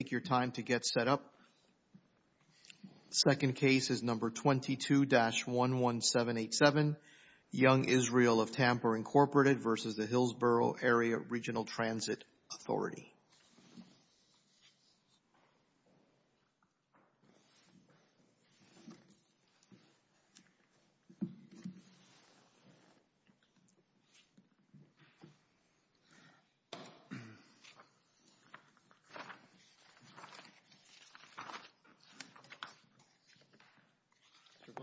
Take your time to get set up. Second case is number 22-11787, Young Israel of Tampa, Inc. v. Hillsborough Area Regional Transit Authority.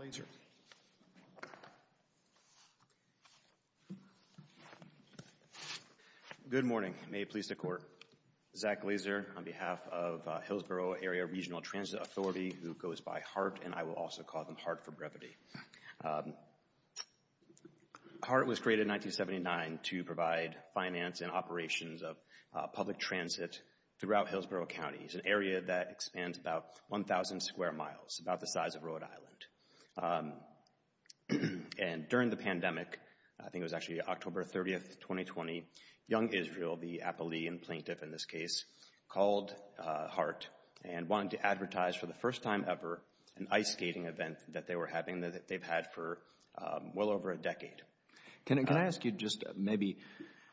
Mr. Glazer. Good morning. May it please the Court. Zach Glazer on behalf of Hillsborough Area Regional Transit Authority, who goes by Hart, and I will also call them Hart for brevity. Hart was created in 1979 to provide finance and operations of public transit throughout Hillsborough County. It's an area that expands about 1,000 square miles, about the size of Rhode Island. And during the pandemic, I think it was actually October 30, 2020, Young Israel, the appellee and plaintiff in this case, called Hart and wanted to advertise for the first time ever an ice skating event that they were having that they've had for well over a decade. Can I ask you just maybe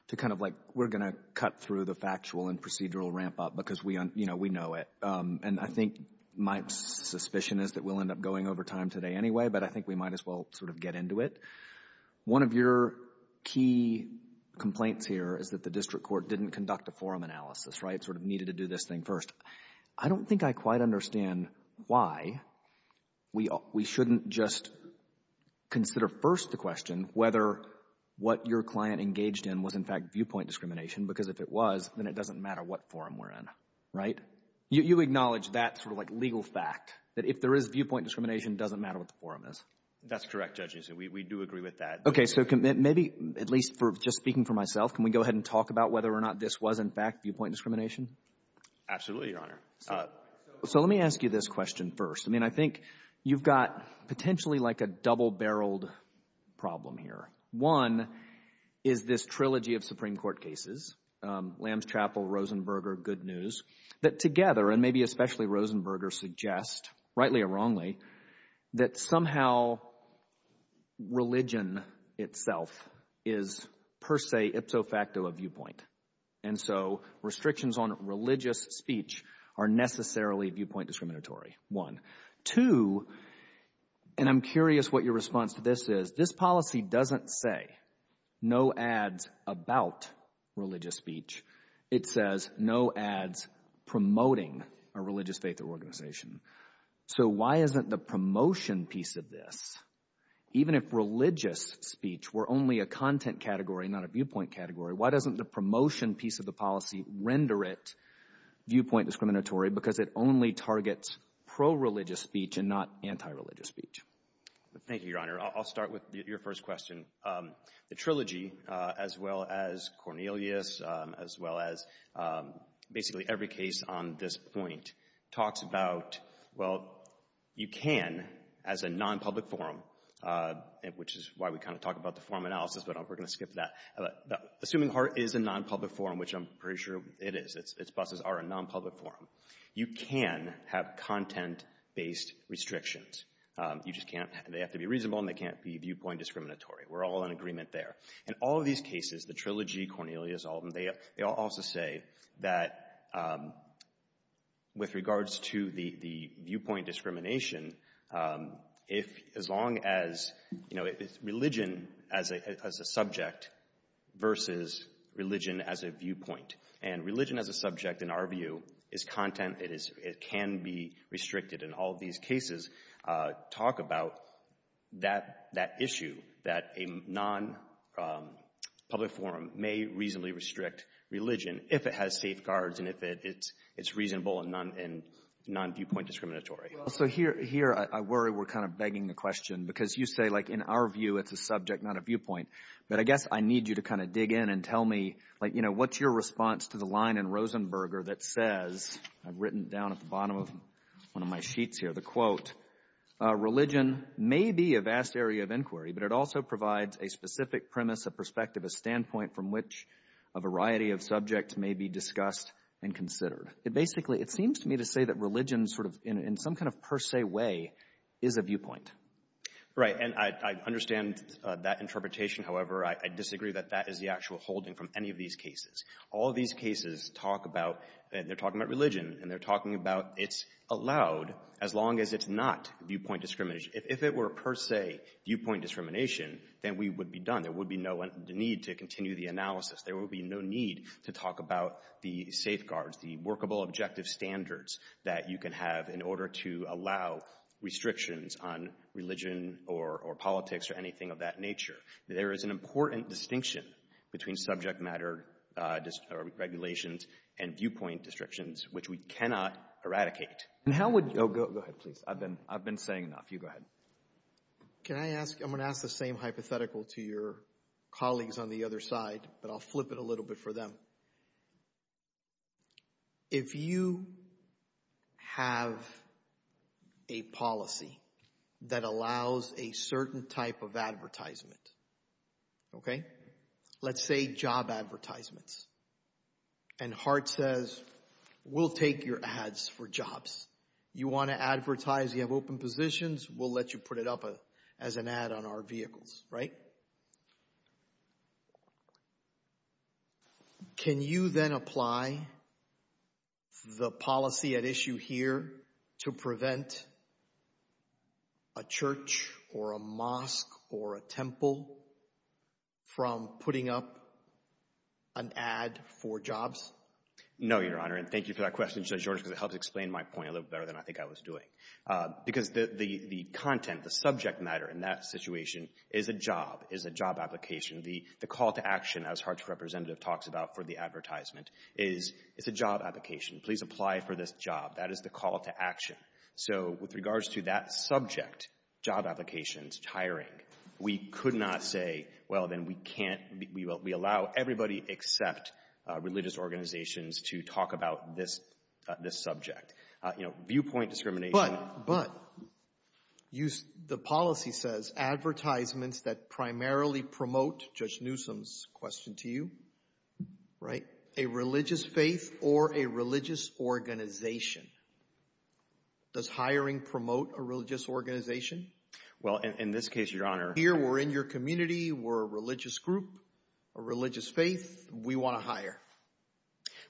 to kind of like, we're going to cut through the factual and know it. And I think my suspicion is that we'll end up going over time today anyway, but I think we might as well sort of get into it. One of your key complaints here is that the district court didn't conduct a forum analysis, right? Sort of needed to do this thing first. I don't think I quite understand why we shouldn't just consider first the question whether what your client engaged in was in fact viewpoint discrimination, because if it was, then it was. Right? You acknowledge that sort of like legal fact, that if there is viewpoint discrimination, it doesn't matter what the forum is. That's correct, Judge Nissen. We do agree with that. Okay. So maybe at least for just speaking for myself, can we go ahead and talk about whether or not this was in fact viewpoint discrimination? Absolutely, Your Honor. So let me ask you this question first. I mean, I think you've got potentially like a double-barreled problem here. One is this trilogy of Supreme Court cases, Lambs Chapel, Rosenberger, Good News, that together, and maybe especially Rosenberger, suggest, rightly or wrongly, that somehow religion itself is per se, ipso facto, a viewpoint. And so restrictions on religious speech are necessarily viewpoint discriminatory, one. Two, and I'm curious what your response to this is, this policy doesn't say no ads about religious speech. It says no ads promoting a religious faith or organization. So why isn't the promotion piece of this, even if religious speech were only a content category, not a viewpoint category, why doesn't the promotion piece of the policy render it targets pro-religious speech and not anti-religious speech? Thank you, Your Honor. I'll start with your first question. The trilogy, as well as Cornelius, as well as basically every case on this point, talks about, well, you can, as a non-public forum, which is why we kind of talk about the forum analysis, but we're going to skip that, Assuming Hart is a non-public forum, which I'm pretty sure it is. Its buses are a non-public forum. You can have content-based restrictions. You just can't. They have to be reasonable, and they can't be viewpoint discriminatory. We're all in agreement there. In all of these cases, the trilogy, Cornelius, all of them, they all also say that with regards to the viewpoint discrimination, as long as, you know, it's religion as a subject versus religion as a viewpoint, and religion as a subject, in our view, is content. It can be restricted. In all of these cases, talk about that issue, that a non-public forum may reasonably restrict religion if it has safeguards and if it's reasonable and non-viewpoint discriminatory. Well, so here, I worry we're kind of begging the question, because you say, like, in our to kind of dig in and tell me, like, you know, what's your response to the line in Rosenberger that says, I've written down at the bottom of one of my sheets here, the quote, religion may be a vast area of inquiry, but it also provides a specific premise, a perspective, a standpoint from which a variety of subjects may be discussed and considered. It basically, it seems to me to say that religion sort of, in some kind of per se way, is a viewpoint. Right. And I understand that interpretation. However, I disagree that that is the actual holding from any of these cases. All of these cases talk about, they're talking about religion, and they're talking about it's allowed as long as it's not viewpoint discrimination. If it were per se viewpoint discrimination, then we would be done. There would be no need to continue the analysis. There would be no need to talk about the safeguards, the workable objective standards that you can have in order to allow restrictions on religion or politics or anything of that nature. There is an important distinction between subject matter regulations and viewpoint restrictions, which we cannot eradicate. And how would you... Oh, go ahead, please. I've been saying enough. You go ahead. Can I ask, I'm going to ask the same hypothetical to your colleagues on the other side, but I'll flip it a little bit for them. If you have a policy that allows a certain type of advertisement, okay, let's say job advertisements, and Hart says, we'll take your ads for jobs. You want to advertise, you have open positions, we'll let you put it up as an ad on our vehicles, right? Can you then apply the policy at issue here to prevent a church or a mosque or a temple from putting up an ad for jobs? No, Your Honor, and thank you for that question, Judge George, because it helps explain my point a little better than I think I was doing. Because the content, the subject matter in that situation is a job, is a job application. The call to action, as Hart's representative talks about for the advertisement, is it's a job application. Please apply for this job. That is the call to action. So with regards to that subject, job applications, hiring, we could not say, well, then we can't, we allow everybody except religious organizations to talk about this subject. You know, viewpoint discrimination. But, but, the policy says advertisements that primarily promote, Judge Newsom's question to you, right, a religious faith or a religious organization. Does hiring promote a religious organization? Well, in this case, Your Honor. Here we're in your community, we're a religious group, a religious faith, we want to hire.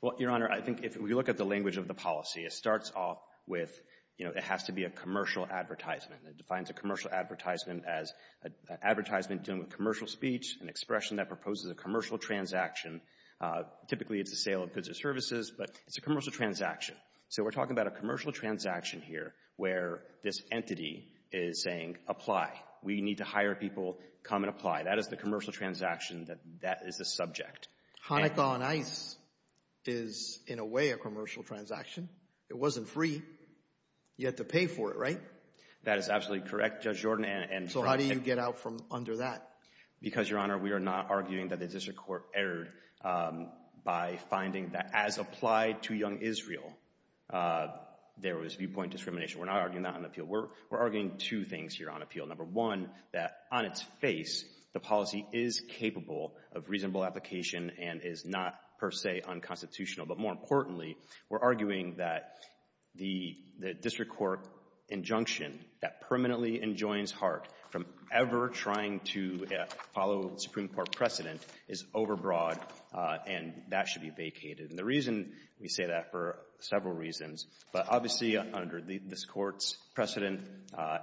Well, Your Honor, I think if we look at the language of the policy, it starts off with, you know, it has to be a commercial advertisement. It defines a commercial advertisement as an advertisement dealing with commercial speech, an expression that proposes a commercial transaction. Typically, it's a sale of goods or services, but it's a commercial transaction. So we're talking about a commercial transaction here where this entity is saying, apply. We need to hire people, come and apply. That is the commercial transaction that, that is the subject. Hanukkah on Ice is, in a way, a commercial transaction. It wasn't free. You had to pay for it, right? That is absolutely correct, Judge Jordan, and, and. So how do you get out from under that? Because, Your Honor, we are not arguing that the district court erred by finding that, as applied to Young Israel, there was viewpoint discrimination. We're not arguing that on appeal. We're, we're arguing two things here on appeal. Number one, that on its face, the policy is capable of reasonable application and is not, per se, unconstitutional. But more importantly, we're arguing that the, the district court injunction that permanently enjoins Hart from ever trying to follow the Supreme Court precedent is overbroad, and that should be vacated. And the reason we say that, for several reasons, but obviously, under this court's precedent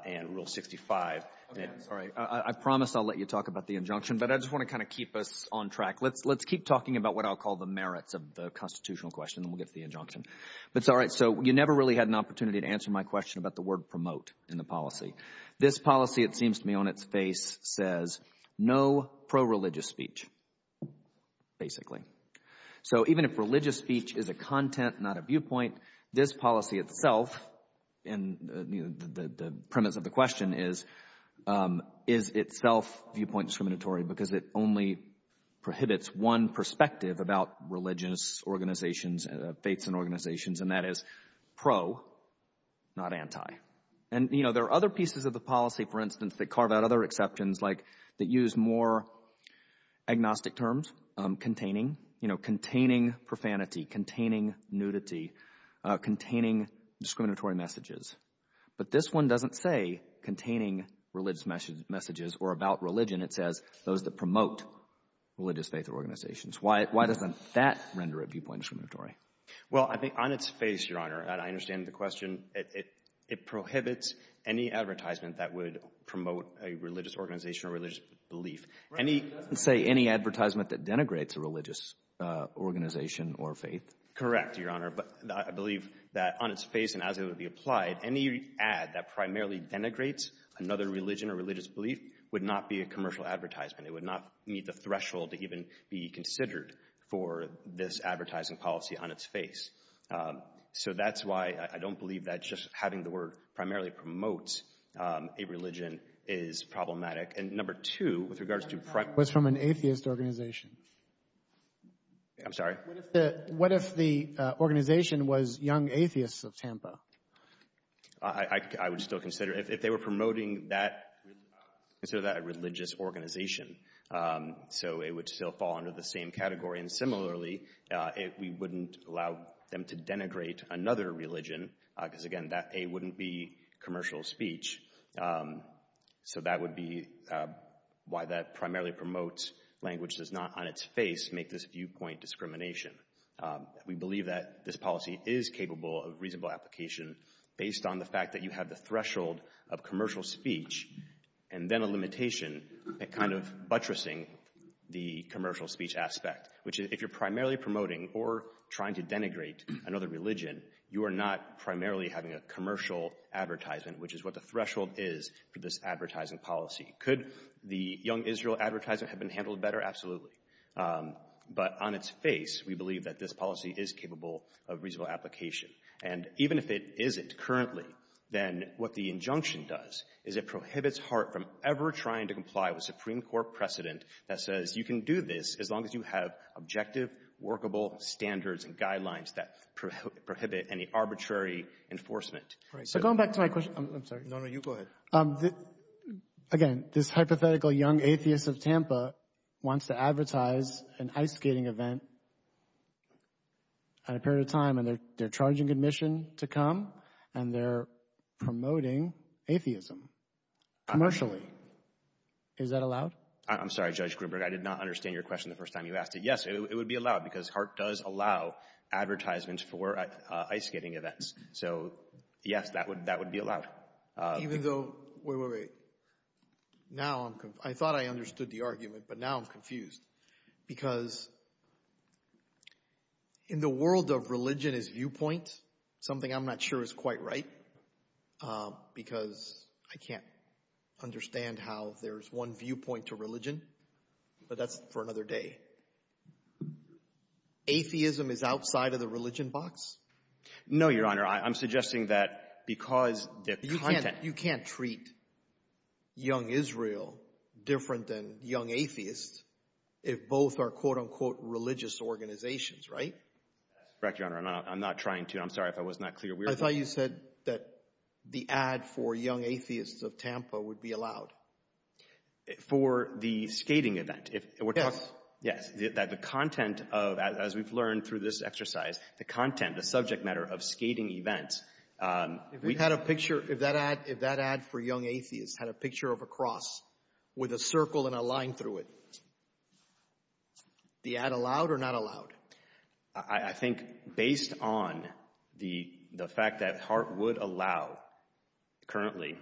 and Rule 65. Okay, I'm sorry. I promise I'll let you talk about the injunction, but I just want to kind of keep us on track. Let's, let's keep talking about what I'll call the merits of the constitutional question, then we'll get to the injunction. But, all right, so you never really had an opportunity to answer my question about the word promote in the policy. This policy, it seems to me, on its face says no pro-religious speech, basically. So even if religious speech is a content, not a viewpoint, this policy itself, and the premise of the question is, is itself viewpoint discriminatory because it only prohibits one perspective about religious organizations, faiths and organizations, and that is pro, not anti. And, you know, there are other pieces of the policy, for instance, that carve out other exceptions, like that use more agnostic terms, containing, you know, containing profanity, containing nudity, containing discriminatory messages. But this one doesn't say containing religious messages or about religion. It says those that promote religious faith or organizations. Why, why doesn't that render a viewpoint discriminatory? Well, I think on its face, Your Honor, and I understand the question, it prohibits any advertisement that would promote a religious organization or religious belief. It doesn't say any advertisement that denigrates a religious organization or faith. Correct, Your Honor, but I believe that on its face and as it would be applied, any ad that primarily denigrates another religion or religious belief would not be a commercial advertisement. It would not meet the threshold to even be considered for this advertising policy on its face. So that's why I don't believe that just having the word primarily promotes a religion is problematic. And number two, with regards to... Was from an atheist organization. I'm sorry? What if the organization was Young Atheists of Tampa? I would still consider, if they were promoting that, consider that a religious organization. So it would still fall under the same category. And similarly, we wouldn't allow them to denigrate another religion, because again, that A wouldn't be commercial speech. So that would be why that primarily promotes language does not on its face make this viewpoint discrimination. We believe that this policy is capable of reasonable application based on the fact that you have the threshold of commercial speech and then a limitation at kind of buttressing the commercial speech aspect, which if you're primarily promoting or trying to denigrate another religion, you are not primarily having a commercial advertisement, which is what the threshold is for this advertising policy. Could the Young Israel advertisement have been handled better? Absolutely. But on its face, we believe that this policy is capable of reasonable application. And even if it isn't currently, then what the injunction does is it prohibits HART from ever trying to comply with Supreme Court precedent that says you can do this as long as you have objective, workable standards and guidelines that prohibit any arbitrary enforcement. So going back to my question, I'm sorry. No, no, you go ahead. Again, this hypothetical young atheist of Tampa wants to advertise an ice skating event at a period of time and they're charging admission to come and they're promoting atheism commercially. Is that allowed? I'm sorry, Judge Gruberg. I did not understand your question the first time you asked it. Yes, it would be allowed because HART does allow advertisements for ice skating events. So, yes, that would be allowed. Even though, wait, wait, wait. Now I'm, I thought I understood the argument, but now I'm confused. Because in the world of religion as viewpoint, something I'm not sure is quite right because I can't understand how there's one viewpoint to religion, but that's for another day. Atheism is outside of the religion box? No, Your Honor, I'm suggesting that because the content... You can't treat young Israel different than young atheists if both are quote-unquote religious organizations, right? That's correct, Your Honor. I'm not trying to. I'm sorry if I was not clear. I thought you said that the ad for young atheists of Tampa would be allowed. For the skating event. Yes. Yes, that the content of, as we've learned through this exercise, the content, the subject matter of skating events... If we had a picture, if that ad for young atheists had a picture of a cross with a circle and a line through it, the ad allowed or not allowed? I think based on the fact that Hart would allow currently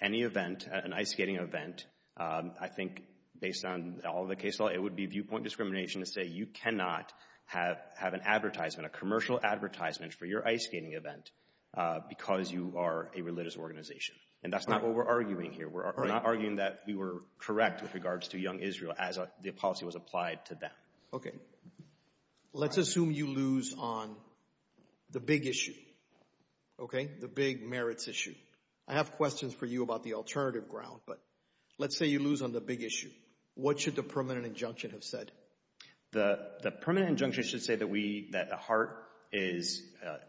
any event, an ice skating event, I think based on all the case law, it would be viewpoint discrimination to say you cannot have an advertisement, a commercial advertisement for your ice skating event because you are a religious organization. And that's not what we're arguing here. We're not arguing that we were correct with regards to young Israel as the policy was applied to them. Okay. Let's assume you lose on the big issue, okay? The big merits issue. I have questions for you about the alternative ground, but let's say you lose on the big issue. What should the permanent injunction have said? The permanent injunction should say that we — that Hart is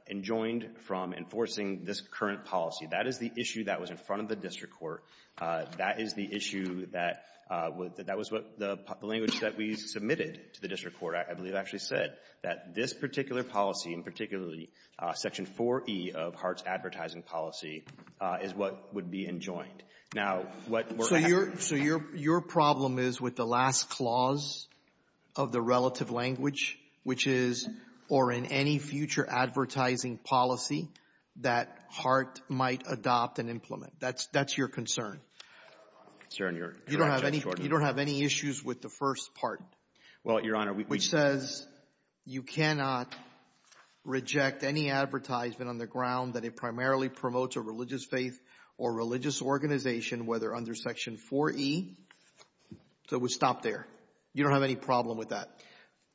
enjoined from enforcing this current policy. That is the issue that was in front of the district court. That is the issue that — that was what the language that we submitted to the district court, I believe, actually said, that this particular policy, and particularly Section 4e of Hart's advertising policy, is what would be enjoined. Now, what we're having... ...is a last clause of the relative language, which is, or in any future advertising policy, that Hart might adopt and implement. That's — that's your concern. Your concern, Your Honor. You don't have any — you don't have any issues with the first part. Well, Your Honor, we — Which says you cannot reject any advertisement on the ground that it primarily promotes a religious faith or religious organization, whether under Section 4e. So it would stop there. You don't have any problem with that?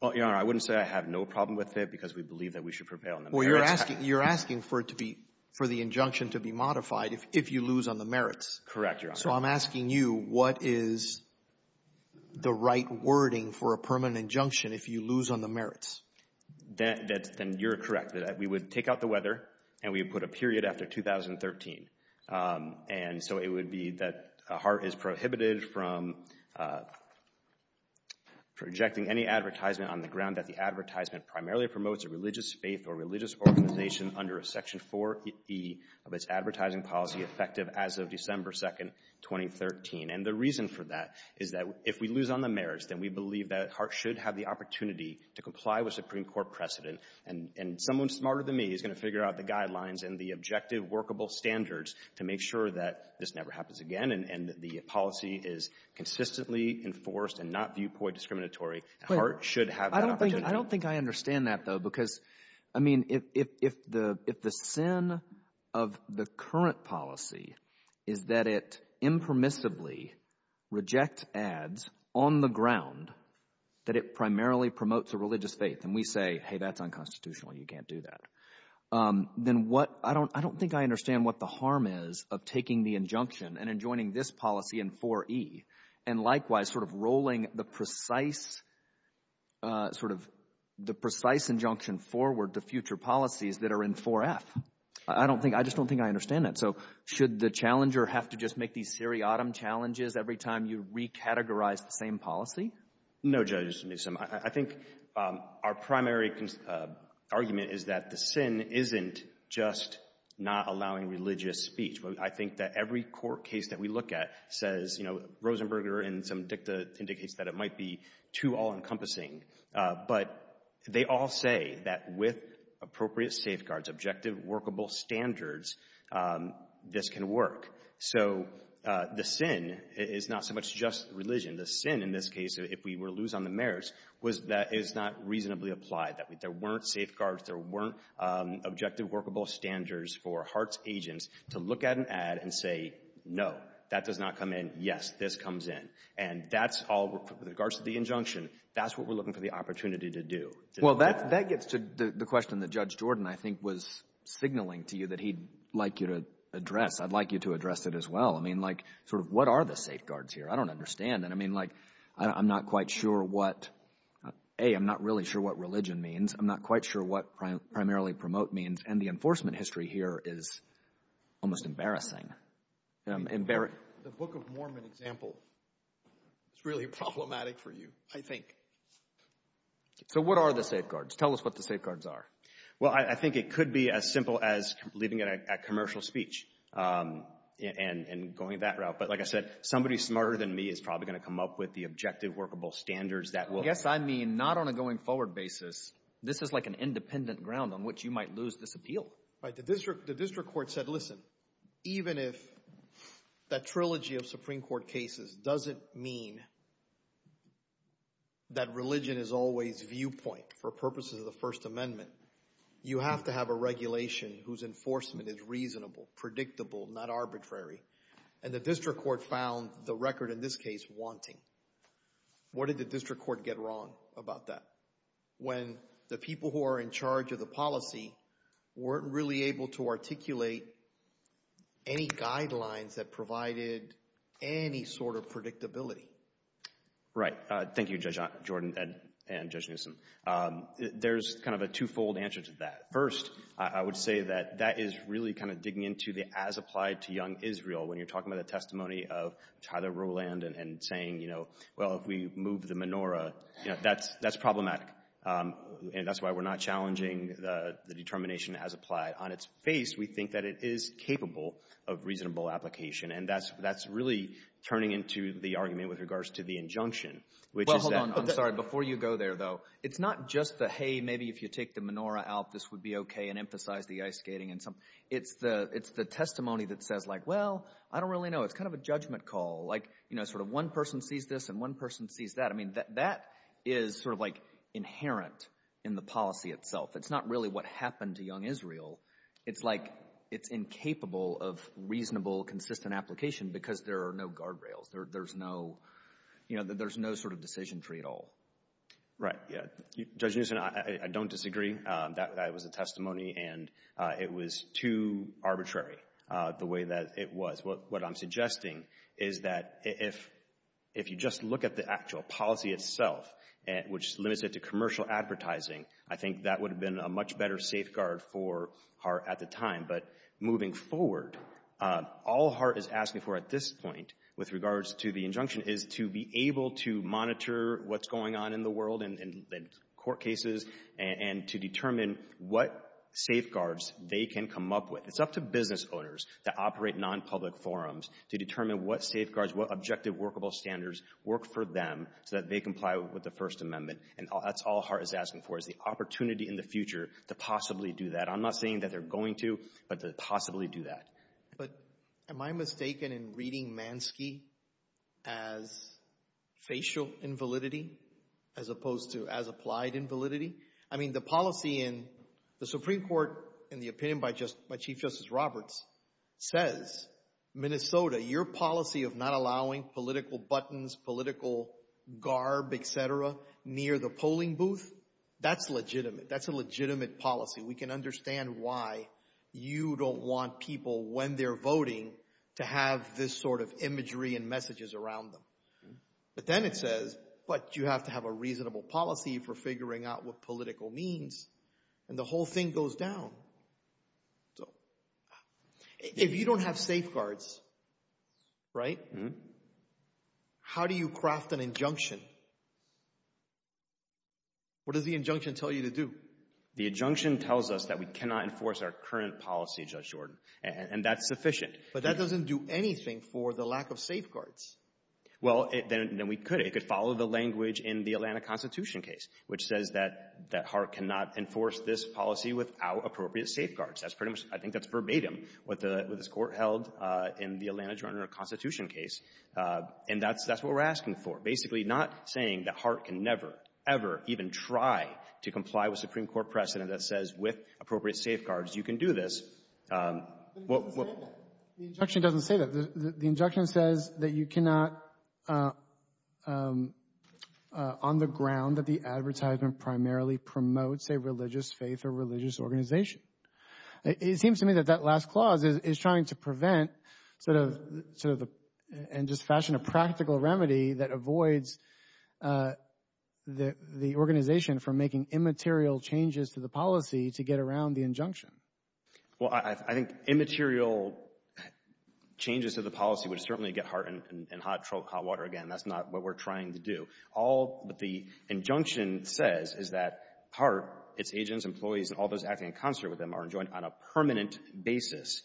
Well, Your Honor, I wouldn't say I have no problem with it because we believe that we should prevail on the merits. Well, you're asking — you're asking for it to be — for the injunction to be modified if you lose on the merits. Correct, Your Honor. So I'm asking you, what is the right wording for a permanent injunction if you lose on the merits? That — that's — then you're correct. We would take out the weather, and we would put a period after 2013. And so it would be that Hart is prohibited from rejecting any advertisement on the ground that the advertisement primarily promotes a religious faith or religious organization under Section 4e of its advertising policy, effective as of December 2nd, 2013. And the reason for that is that if we lose on the merits, then we believe that Hart should have the opportunity to comply with Supreme Court precedent. And — and someone smarter than me is going to figure out the guidelines and the objective workable standards to make sure that this never happens again and that the policy is consistently enforced and not viewpoint discriminatory. Hart should have that opportunity. I don't think — I don't think I understand that, though, because, I mean, if — if the — if the sin of the current policy is that it impermissibly rejects ads on the ground that it primarily promotes a religious faith, and we say, hey, that's unconstitutional, you can't do that, then what — I don't — I don't think I understand what the harm is of taking the injunction and enjoining this policy in 4e and likewise sort of rolling the precise — sort of the precise injunction forward to future policies that are in 4f. I don't think — I just don't think I understand that. So should the challenger have to just make these seriatim challenges every time you recategorize the same policy? No, Judge Newsom. I think our primary argument is that the sin isn't just not allowing religious speech. I think that every court case that we look at says, you know, Rosenberger in some dicta indicates that it might be too all-encompassing. But they all say that with appropriate safeguards, objective, workable standards, this can work. So the sin is not so much just religion. The sin in this case, if we were to lose on the merits, was that it's not reasonably applied, that there weren't safeguards, there weren't objective, workable standards for HARTS agents to look at an ad and say, no, that does not come in. Yes, this comes in. And that's all — with regards to the injunction, that's what we're looking for the opportunity to do. Well, that gets to the question that Judge Jordan, I think, was signaling to you that he'd like you to address. I'd like you to address it as well. I mean, like, sort of what are the safeguards here? I don't understand. And I mean, like, I'm not quite sure what — A, I'm not really sure what religion means. I'm not quite sure what primarily promote means. And the enforcement history here is almost embarrassing. The Book of Mormon example is really problematic for you, I think. So what are the safeguards? Tell us what the safeguards are. Well, I think it could be as simple as leaving it at commercial speech and going that route. But like I said, somebody smarter than me is probably going to come up with the objective, workable standards that will — Yes, I mean, not on a going-forward basis. This is like an independent ground on which you might lose this appeal. Right. The district court said, listen, even if that trilogy of Supreme Court cases doesn't mean that religion is always viewpoint for purposes of the First Amendment, you have to have a regulation whose enforcement is reasonable, predictable, not arbitrary. And the district court found the record in this case wanting. What did the district court get wrong about that? When the people who are in charge of the policy weren't really able to articulate any guidelines that provided any sort of predictability. Right. Thank you, Judge Jordan and Judge Newsom. There's kind of a two-fold answer to that. First, I would say that that is really kind of digging into the as-applied-to-young Israel. When you're talking about the testimony of Tyler Rowland and saying, you know, well, if we move the menorah, you know, that's problematic. And that's why we're not challenging the determination as-applied. On its face, we think that it is capable of reasonable application. And that's really turning into the argument with regards to the injunction, which is that — Well, hold on. I'm sorry. Before you go there, though, it's not just the, hey, maybe if you take the menorah out, this would be okay, and emphasize the ice skating. It's the testimony that says, like, well, I don't really know. It's kind of a judgment call. Like, you know, sort of one person sees this, and one person sees that. I mean, that is sort of, like, inherent in the policy itself. It's not really what happened to young Israel. It's like it's incapable of reasonable, consistent application because there are no guardrails. There's no — you know, there's no sort of decision tree at all. Right. Yeah. Judge Newsom, I don't disagree. That was a testimony, and it was too arbitrary the way that it was. What I'm suggesting is that if you just look at the actual policy itself, which limits it to commercial advertising, I think that would have been a much better safeguard for Hart at the time. But moving forward, all Hart is asking for at this point with regards to the injunction is to be able to monitor what's going on in the world and court cases and to determine what safeguards they can come up with. It's up to business owners that operate nonpublic forums to determine what safeguards, what objective workable standards work for them so that they comply with the First Amendment. And that's all Hart is asking for, is the opportunity in the future to possibly do that. I'm not saying that they're going to, but to possibly do that. But am I mistaken in reading Mansky as facial invalidity as opposed to as applied invalidity? I mean, the policy in the Supreme Court, in the opinion by Chief Justice Roberts, says Minnesota, your policy of not allowing political buttons, political garb, et cetera, near the polling booth, that's legitimate. That's a legitimate policy. We can understand why you don't want people when they're voting to have this sort of imagery and messages around them. But then it says, but you have to have a reasonable policy for figuring out what political means. And the whole thing goes down. So if you don't have safeguards, right, how do you craft an injunction? What does the injunction tell you to do? The injunction tells us that we cannot enforce our current policy, Judge Jordan, and that's sufficient. But that doesn't do anything for the lack of safeguards. Well, then we could. It could follow the language in the Atlanta Constitution case, which says that Hart cannot enforce this policy without appropriate safeguards. That's pretty much, I think that's verbatim, what this Court held in the Atlanta Constitution case. And that's what we're asking for. Basically, not saying that Hart can never, ever even try to comply with Supreme Court precedent that says, with appropriate safeguards, you can do this. But it doesn't say that. The injunction doesn't say that. The injunction says that you cannot, on the ground that the advertisement primarily promotes a religious faith or religious organization. It seems to me that that last clause is trying to prevent, and just fashion a practical remedy that avoids the organization from making immaterial changes to the policy to get around the injunction. Well, I think immaterial changes to the policy would certainly get Hart in hot water again. That's not what we're trying to do. All that the injunction says is that Hart, its agents, employees, and all those acting in concert with them are enjoined on a permanent basis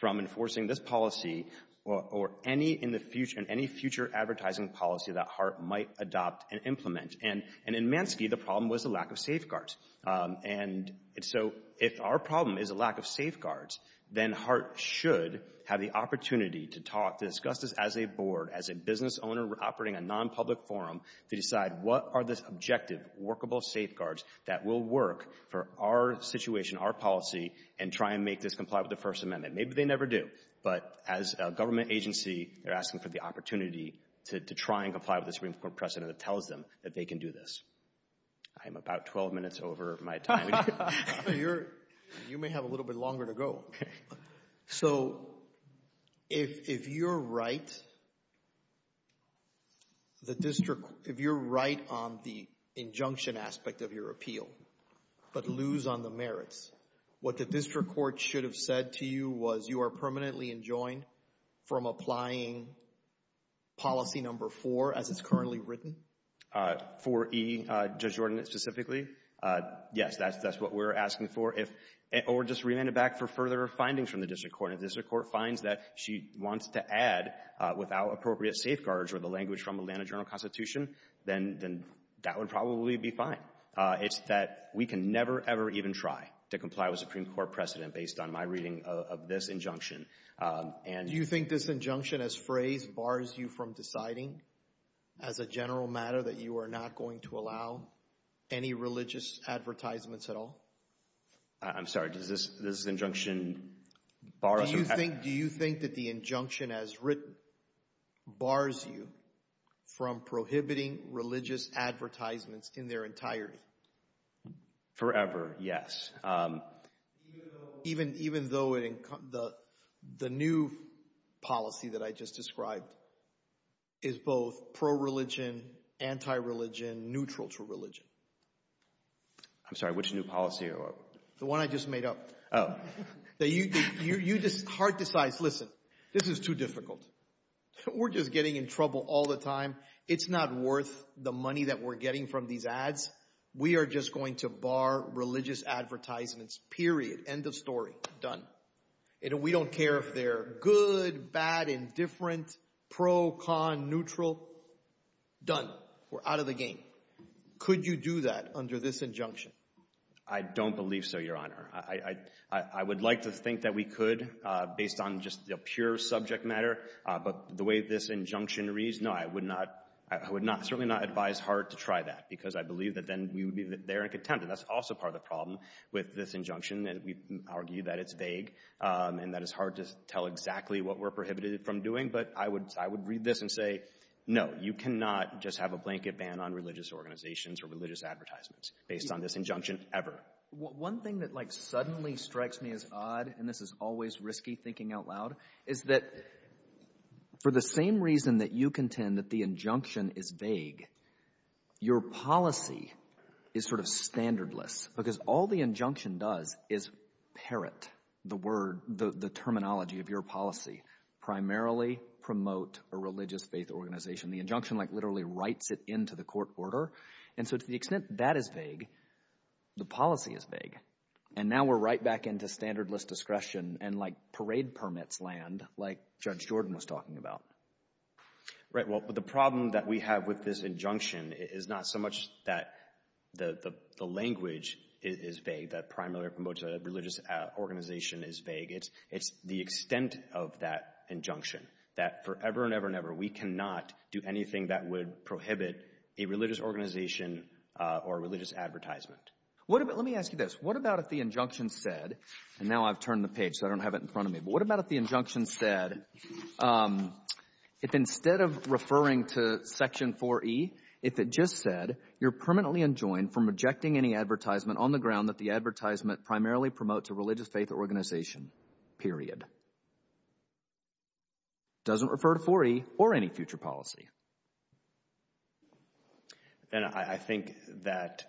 from enforcing this policy or any future advertising policy that Hart might adopt and implement. And in Mansky, the problem was the lack of safeguards. And so if our problem is a lack of safeguards, then Hart should have the opportunity to talk, to discuss this as a board, as a business owner operating a non-public forum, to decide what are the objective workable safeguards that will work for our situation, our policy, and try and make this comply with the First Amendment. Maybe they never do. But as a government agency, they're asking for the opportunity to try and comply with the Supreme Court precedent that tells them that they can do this. I'm about 12 minutes over my time. You may have a little bit longer to go. So if you're right on the injunction aspect of your appeal but lose on the merits, what the district court should have said to you was you are permanently enjoined from applying policy number four, as it's currently written? Four E, Judge Jordan, specifically. Yes, that's what we're asking for. If it were just remanded back for further findings from the district court, and the district court finds that she wants to add without appropriate safeguards or the language from Atlanta Journal Constitution, then that would probably be fine. It's that we can never, ever even try to comply with Supreme Court precedent based on my reading of this injunction. Do you think this injunction as phrase bars you from deciding, as a general matter, that you are not going to allow any religious advertisements at all? I'm sorry, does this injunction bar us from having? Do you think that the injunction as written bars you from prohibiting religious advertisements in their entirety? Forever, yes. Even though the new policy that I just described is both pro-religion, anti-religion, neutral to religion. I'm sorry, which new policy? The one I just made up. You just hard decides, listen, this is too difficult. We're just getting in trouble all the time. It's not worth the money that we're getting from these ads. We are just going to bar religious advertisements, period, end of story, done. We don't care if they're good, bad, indifferent, pro, con, neutral, done. We're out of the game. Could you do that under this injunction? I don't believe so, Your Honor. I would like to think that we could, based on just the pure subject matter. But the way this injunction reads, no, I would certainly not advise Hart to try that. Because I believe that then we would be there and contend. And that's also part of the problem with this injunction. And we argue that it's vague, and that it's hard to tell exactly what we're prohibited from doing. But I would read this and say, no, you cannot just have a blanket ban on religious organizations or religious advertisements based on this injunction ever. One thing that suddenly strikes me as odd, and this is always risky thinking out loud, is that for the same reason that you contend that the injunction is vague, your policy is sort of standardless. Because all the injunction does is parrot the terminology of your policy, primarily promote a religious faith organization. The injunction literally writes it into the court order. And so to the extent that is vague, the policy is vague. And now we're right back into standardless discretion and parade permits land, like Judge Jordan was talking about. Right. Well, but the problem that we have with this injunction is not so much that the language is vague, that primarily promote a religious organization is vague. It's the extent of that injunction, that forever and ever and ever we cannot do anything that would prohibit a religious organization or religious advertisement. Let me ask you this. What about if the injunction said, and now I've turned the page so I don't have it in front of me, but what about if the injunction said, if instead of referring to Section 4E, if it just said, you're permanently enjoined from rejecting any advertisement on the ground that the advertisement primarily promotes a religious faith organization, period. Doesn't refer to 4E or any future policy. Then I think that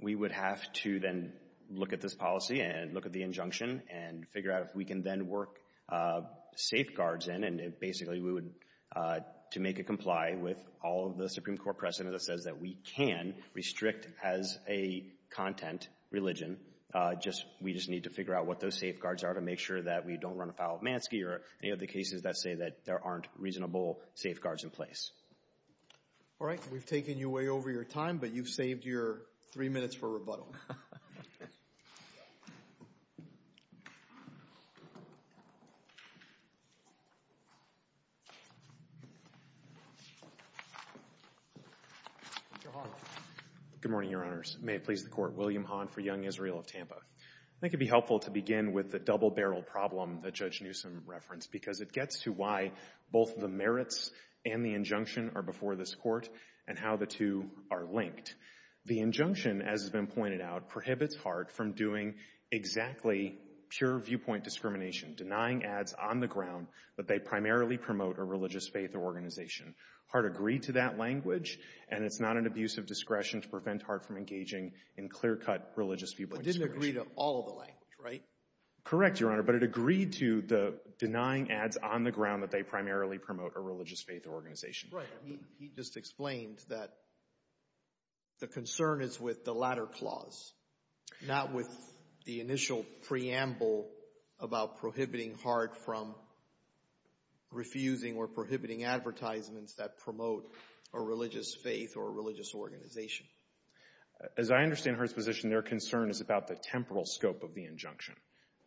we would have to then look at this policy and look at the injunction and figure out if we can then work safeguards in. And basically, we would, to make it comply with all of the Supreme Court precedent that says that we can restrict as a content religion, we just need to figure out what those safeguards are to make sure that we don't run afoul of Mansky or any of the cases that say that there aren't reasonable safeguards in place. All right. We've taken you way over your time, but you've saved your three minutes for rebuttal. Thank you. Mr. Hahn. Good morning, Your Honors. May it please the Court. William Hahn for Young Israel of Tampa. I think it'd be helpful to begin with the double barrel problem that Judge Newsom referenced, because it gets to why both the merits and the injunction are before this Court and how the two are linked. The injunction, as has been pointed out, prohibits Hart from doing exactly pure viewpoint discrimination, denying ads on the ground that they primarily promote a religious faith organization. Hart agreed to that language, and it's not an abuse of discretion to prevent Hart from engaging in clear-cut religious viewpoints. But it didn't agree to all of the language, right? Correct, Your Honor. But it agreed to the denying ads on the ground that they primarily promote a religious faith organization. Right. He just explained that the concern is with the latter clause, not with the initial preamble about prohibiting Hart from refusing or prohibiting advertisements that promote a religious faith or a religious organization. As I understand Hart's position, their concern is about the temporal scope of the injunction.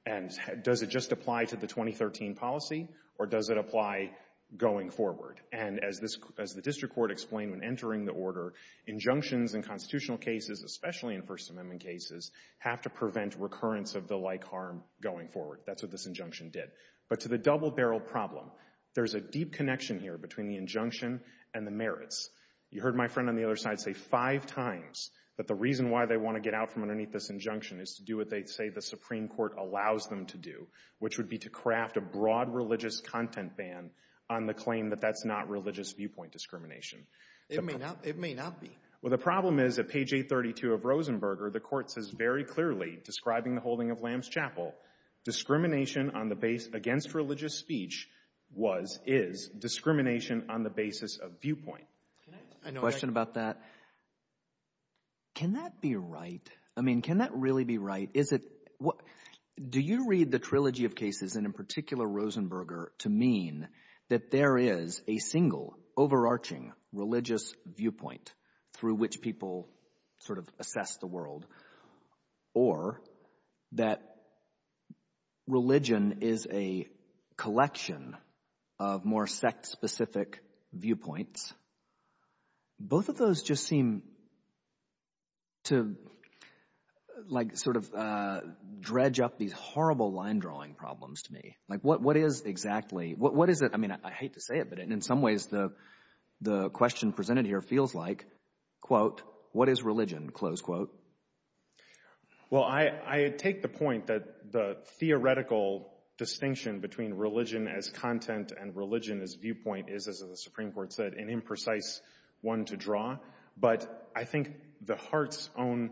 And does it just apply to the 2013 policy, or does it apply going forward? And as the district court explained when entering the order, injunctions in constitutional cases, especially in First Amendment cases, have to prevent recurrence of the like harm going forward. That's what this injunction did. But to the double-barreled problem, there's a deep connection here between the injunction and the merits. You heard my friend on the other side say five times that the reason why they want to get out from underneath this injunction is to do what they say the Supreme Court allows them to do, which would be to craft a broad religious content ban on the claim that that's not religious viewpoint discrimination. It may not be. Well, the problem is at page 832 of Rosenberger, the court says very clearly, describing the holding of Lamb's Chapel, discrimination on the base against religious speech was, is discrimination on the basis of viewpoint. Can I ask a question about that? Can that be right? I mean, can that really be right? Do you read the trilogy of cases, and in particular Rosenberger, to mean that there is a single overarching religious viewpoint through which people sort of assess the world, or that religion is a collection of more sect-specific viewpoints? Both of those just seem to like sort of dredge up these horrible line-drawing problems to me. Like, what is exactly, what is it? I mean, I hate to say it, but in some ways, the question presented here feels like, quote, what is religion, close quote. Well, I take the point that the theoretical distinction between religion as content and religion as viewpoint is, as the Supreme Court said, an imprecise one to draw, but I think the Hart's own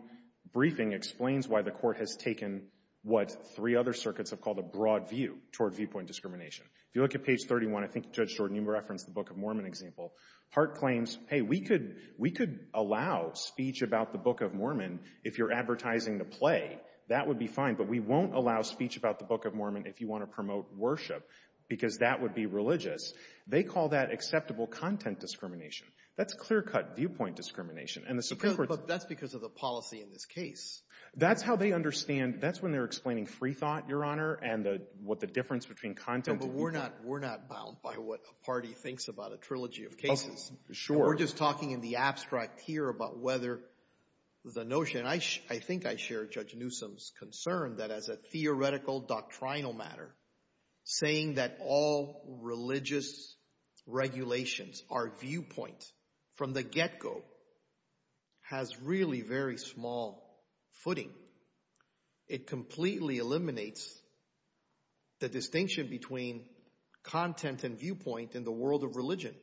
briefing explains why the court has taken what three other circuits have called a broad view toward viewpoint discrimination. If you look at page 31, I think Judge Jordan you referenced the Book of Mormon example, Hart claims, hey, we could allow speech about the Book of Mormon if you're advertising the play. That would be fine, but we won't allow speech about the Book of Mormon if you want to promote worship, because that would be religious. They call that acceptable content discrimination. That's clear-cut viewpoint discrimination, and the Supreme Court's- But that's because of the policy in this case. That's how they understand, that's when they're explaining freethought, Your Honor, and what the difference between content- No, but we're not bound by what a party thinks about a trilogy of cases. Sure. We're just talking in the abstract here about whether the notion, I think I share Judge Newsom's concern that as a theoretical doctrinal matter, saying that all religious regulations, our viewpoint from the get-go has really very small footing it completely eliminates the distinction between content and viewpoint in the world of religion.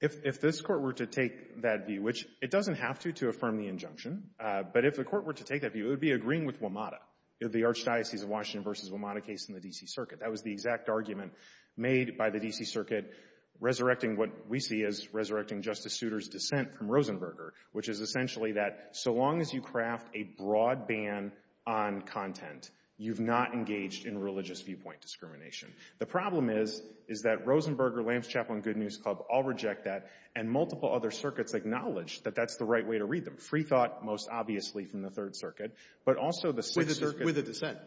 If this court were to take that view, which it doesn't have to, to affirm the injunction, but if the court were to take that view, it would be agreeing with WMATA, the Archdiocese of Washington versus WMATA case in the D.C. Circuit. That was the exact argument made by the D.C. Circuit resurrecting what we see as resurrecting Justice Souter's dissent from Rosenberger, which is essentially that so long as you craft a broad ban on content, you've not engaged in religious viewpoint discrimination. The problem is, is that Rosenberger, Lambs Chaplain, Good News Club all reject that and multiple other circuits acknowledge that that's the right way to read them. Free thought, most obviously from the Third Circuit, but also the Swiss Circuit. With a dissent.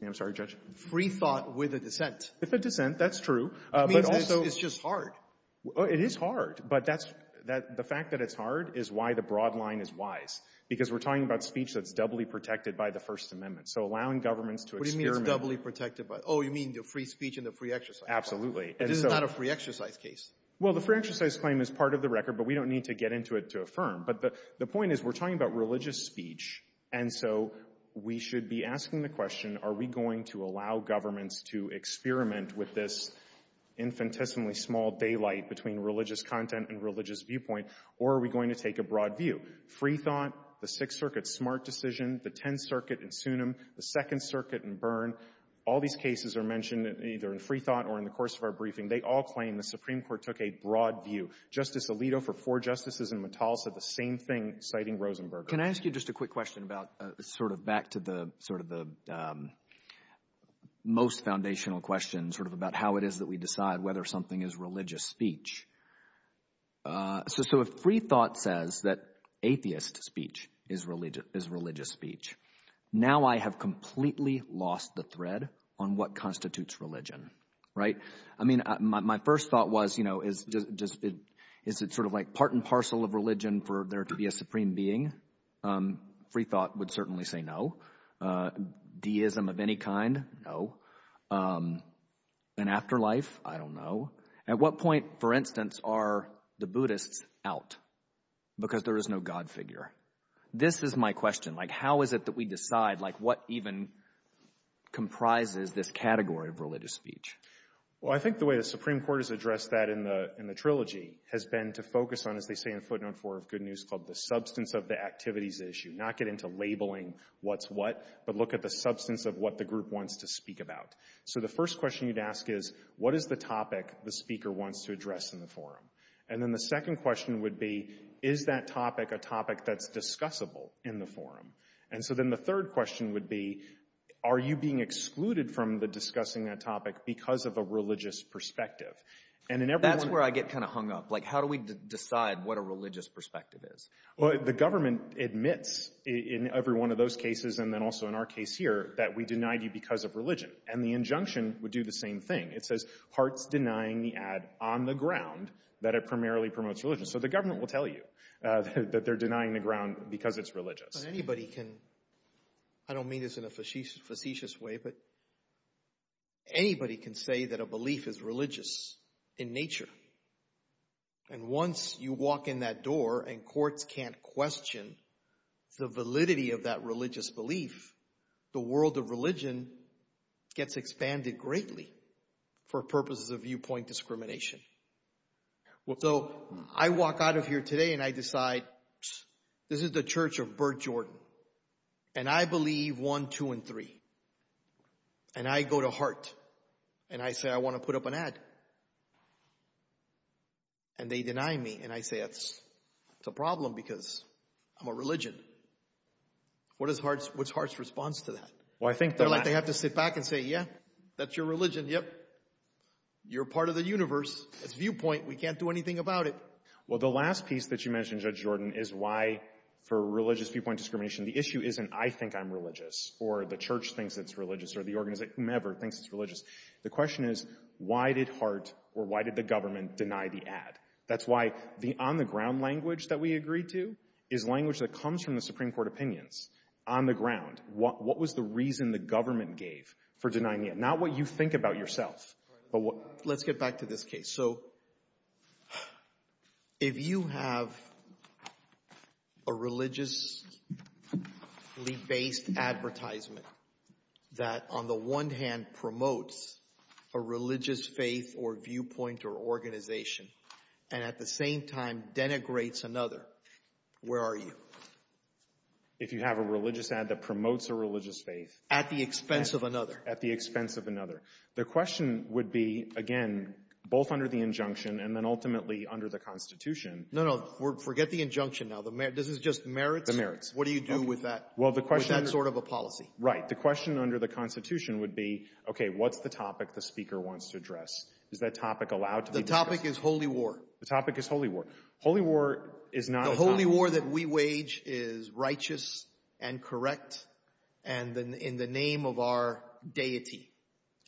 Yeah, I'm sorry, Judge. Free thought with a dissent. With a dissent, that's true, but also. It's just hard. It is hard, but the fact that it's hard is why the broad line is wise. Because we're talking about speech that's doubly protected by the First Amendment. So allowing governments to experiment. What do you mean it's doubly protected by, oh, you mean the free speech and the free exercise. Absolutely. This is not a free exercise case. Well, the free exercise claim is part of the record, but we don't need to get into it to affirm. But the point is, we're talking about religious speech, and so we should be asking the question, are we going to allow governments to experiment with this infinitesimally small daylight between religious content and religious viewpoint, or are we going to take a broad view? Free thought, the Sixth Circuit's smart decision, the Tenth Circuit in Sunim, the Second Circuit in Byrne, all these cases are mentioned either in free thought or in the course of our briefing. They all claim the Supreme Court took a broad view. Justice Alito, for four justices in Metalsa, the same thing, citing Rosenberger. Can I ask you just a quick question about sort of back to the most foundational question sort of about how it is that we decide whether something is religious speech? So if free thought says that atheist speech is religious speech, now I have completely lost the thread on what constitutes religion, right? I mean, my first thought was, you know, is it sort of like part and parcel of religion for there to be a supreme being? Free thought would certainly say no. Deism of any kind, no. An afterlife, I don't know. At what point, for instance, are the Buddhists out? Because there is no God figure. This is my question, like how is it that we decide like what even comprises this category of religious speech? Well, I think the way the Supreme Court has addressed that in the trilogy has been to focus on, as they say in footnote four of Good News Club, the substance of the activities issue, not get into labeling what's what, but look at the substance of what the group wants to speak about. So the first question you'd ask is, what is the topic the speaker wants to address in the forum? And then the second question would be, is that topic a topic that's discussable in the forum? And so then the third question would be, are you being excluded from the discussing that topic because of a religious perspective? And in every one- That's where I get kind of hung up. Like how do we decide what a religious perspective is? Well, the government admits in every one of those cases, and then also in our case here, that we denied you because of religion. And the injunction would do the same thing. It says Hart's denying the ad on the ground that it primarily promotes religion. So the government will tell you that they're denying the ground because it's religious. Anybody can, I don't mean this in a facetious way, but anybody can say that a belief is religious in nature. And once you walk in that door and courts can't question the validity of that religious belief, the world of religion gets expanded greatly. For purposes of viewpoint discrimination. So I walk out of here today and I decide, this is the church of Bert Jordan. And I believe one, two, and three. And I go to Hart and I say, I want to put up an ad. And they deny me and I say, that's a problem because I'm a religion. What is Hart's response to that? Well, I think they're like- They have to sit back and say, yeah, that's your religion, yep. You're part of the universe. It's viewpoint, we can't do anything about it. Well, the last piece that you mentioned, Judge Jordan, is why for religious viewpoint discrimination, the issue isn't I think I'm religious or the church thinks it's religious or the organization, whomever, thinks it's religious. The question is, why did Hart or why did the government deny the ad? That's why the on the ground language that we agreed to is language that comes from the Supreme Court opinions on the ground. What was the reason the government gave for denying the ad? Not what you think about yourself, but what- Let's get back to this case. So, if you have a religiously based advertisement that on the one hand promotes a religious faith or viewpoint or organization, and at the same time denigrates another, where are you? If you have a religious ad that promotes a religious faith- At the expense of another. The question would be, again, both under the injunction and then ultimately under the Constitution- No, no, forget the injunction now. This is just merits? The merits. What do you do with that sort of a policy? Right, the question under the Constitution would be, okay, what's the topic the speaker wants to address? Is that topic allowed to be discussed? The topic is holy war. The topic is holy war. Holy war is not a topic- The holy war that we wage is righteous and correct and in the name of our deity.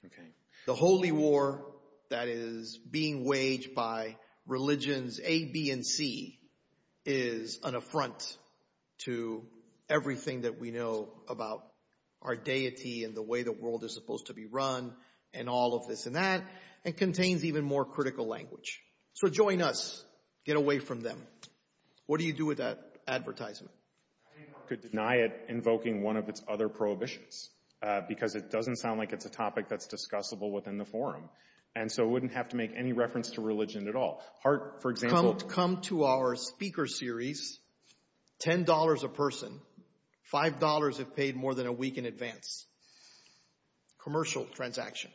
Okay. The holy war that is being waged by religions A, B, and C is an affront to everything that we know about our deity and the way the world is supposed to be run and all of this and that, and contains even more critical language. So, join us. Get away from them. What do you do with that advertisement? I think HART could deny it invoking one of its other prohibitions because it doesn't sound like it's a topic that's discussable within the forum and so it wouldn't have to make any reference to religion at all. HART, for example- Come to our speaker series, $10 a person. $5 if paid more than a week in advance. Commercial transaction.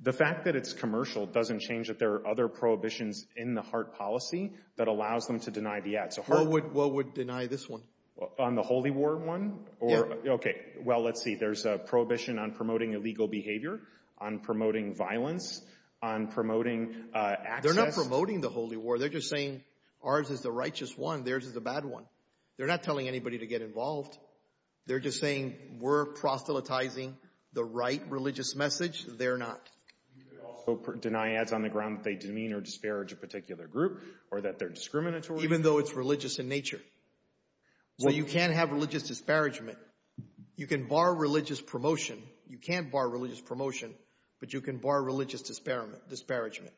The fact that it's commercial doesn't change that there are other prohibitions in the HART policy that allows them to deny the ad. What would deny this one? On the holy war one? Yeah. Okay, well, let's see. There's a prohibition on promoting illegal behavior, on promoting violence, on promoting access. They're not promoting the holy war. They're just saying ours is the righteous one. Theirs is the bad one. They're not telling anybody to get involved. They're just saying we're proselytizing the right religious message. They're not. You could also deny ads on the ground that they demean or disparage a particular group or that they're discriminatory. Even though it's religious in nature. So you can't have religious disparagement. You can bar religious promotion. You can't bar religious promotion, but you can bar religious disparagement.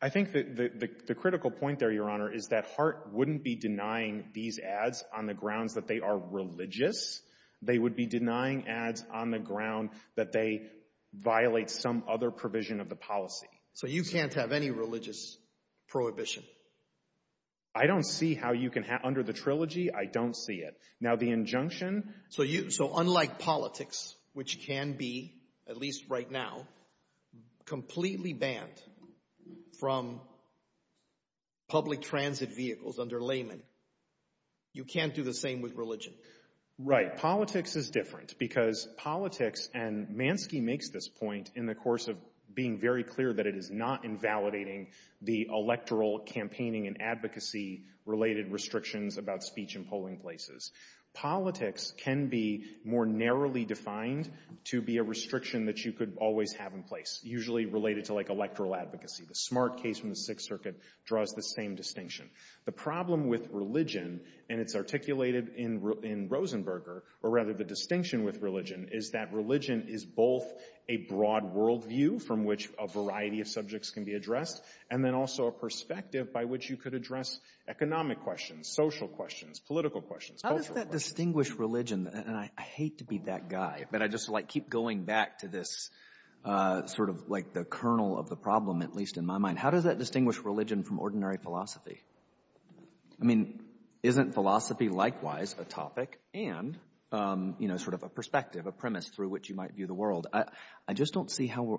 I think that the critical point there, Your Honor, is that HART wouldn't be denying these ads on the grounds that they are religious. They would be denying ads on the ground that they violate some other provision of the policy. So you can't have any religious prohibition. I don't see how you can have, under the trilogy, I don't see it. Now the injunction. So unlike politics, which can be, at least right now, completely banned from public transit vehicles under laymen, you can't do the same with religion. Right, politics is different because politics, and Manske makes this point in the course of being very clear that it is not invalidating the electoral campaigning and advocacy-related restrictions about speech in polling places. Politics can be more narrowly defined to be a restriction that you could always have in place, usually related to electoral advocacy. The Smart case from the Sixth Circuit draws the same distinction. The problem with religion, and it's articulated in Rosenberger, or rather the distinction with religion, is that religion is both a broad worldview from which a variety of subjects can be addressed, and then also a perspective by which you could address economic questions, social questions, political questions, cultural questions. How does that distinguish religion, and I hate to be that guy, but I just like keep going back to this, sort of like the kernel of the problem, at least in my mind. How does that distinguish religion from ordinary philosophy? I mean, isn't philosophy likewise a topic and sort of a perspective, a premise through which you might view the world? I just don't see how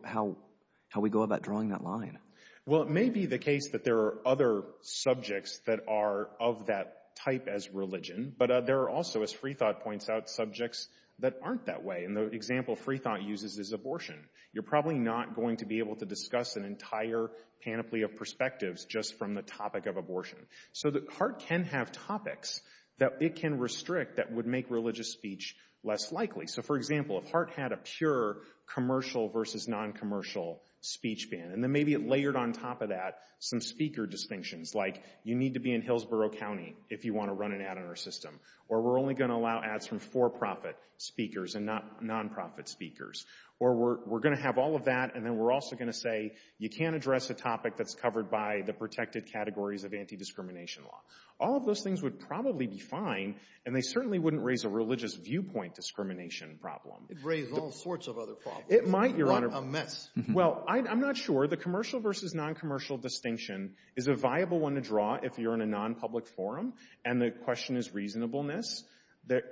we go about drawing that line. Well, it may be the case that there are other subjects that are of that type as religion, but there are also, as Freethought points out, subjects that aren't that way. And the example Freethought uses is abortion. You're probably not going to be able to discuss an entire panoply of perspectives just from the topic of abortion. So the heart can have topics that it can restrict that would make religious speech less likely. So for example, if heart had a pure commercial versus non-commercial speech ban, and then maybe it layered on top of that some speaker distinctions, like you need to be in Hillsborough County if you want to run an ad on our system, or we're only going to allow ads from for-profit speakers and not non-profit speakers, or we're going to have all of that, and then we're also going to say, you can't address a topic that's covered by the protected categories of anti-discrimination law. All of those things would probably be fine, and they certainly wouldn't raise a religious viewpoint discrimination problem. It'd raise all sorts of other problems. It might, Your Honor. It's not a mess. Well, I'm not sure. The commercial versus non-commercial distinction is a viable one to draw if you're in a non-public forum, and the question is reasonableness.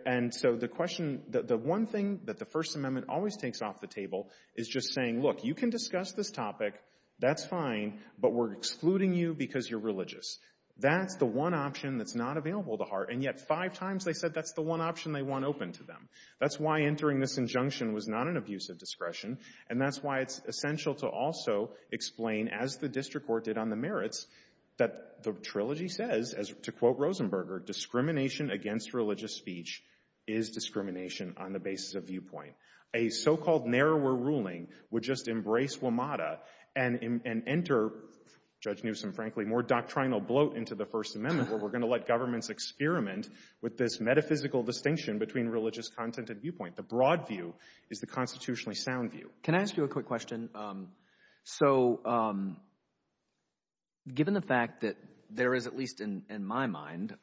And so the question, the one thing that the First Amendment always takes off the table is just saying, look, you can discuss this topic, that's fine, but we're excluding you because you're religious. That's the one option that's not available to heart, and yet five times they said that's the one option they want open to them. That's why entering this injunction was not an abuse of discretion, and that's why it's essential to also explain, as the district court did on the merits, that the trilogy says, to quote Rosenberger, discrimination against religious speech is discrimination on the basis of viewpoint. A so-called narrower ruling would just embrace WMATA and enter, Judge Newsom, frankly, more doctrinal bloat into the First Amendment where we're gonna let governments experiment with this metaphysical distinction between religious content and viewpoint. The broad view is the constitutionally sound view. Can I ask you a quick question? So given the fact that there is, at least in my mind,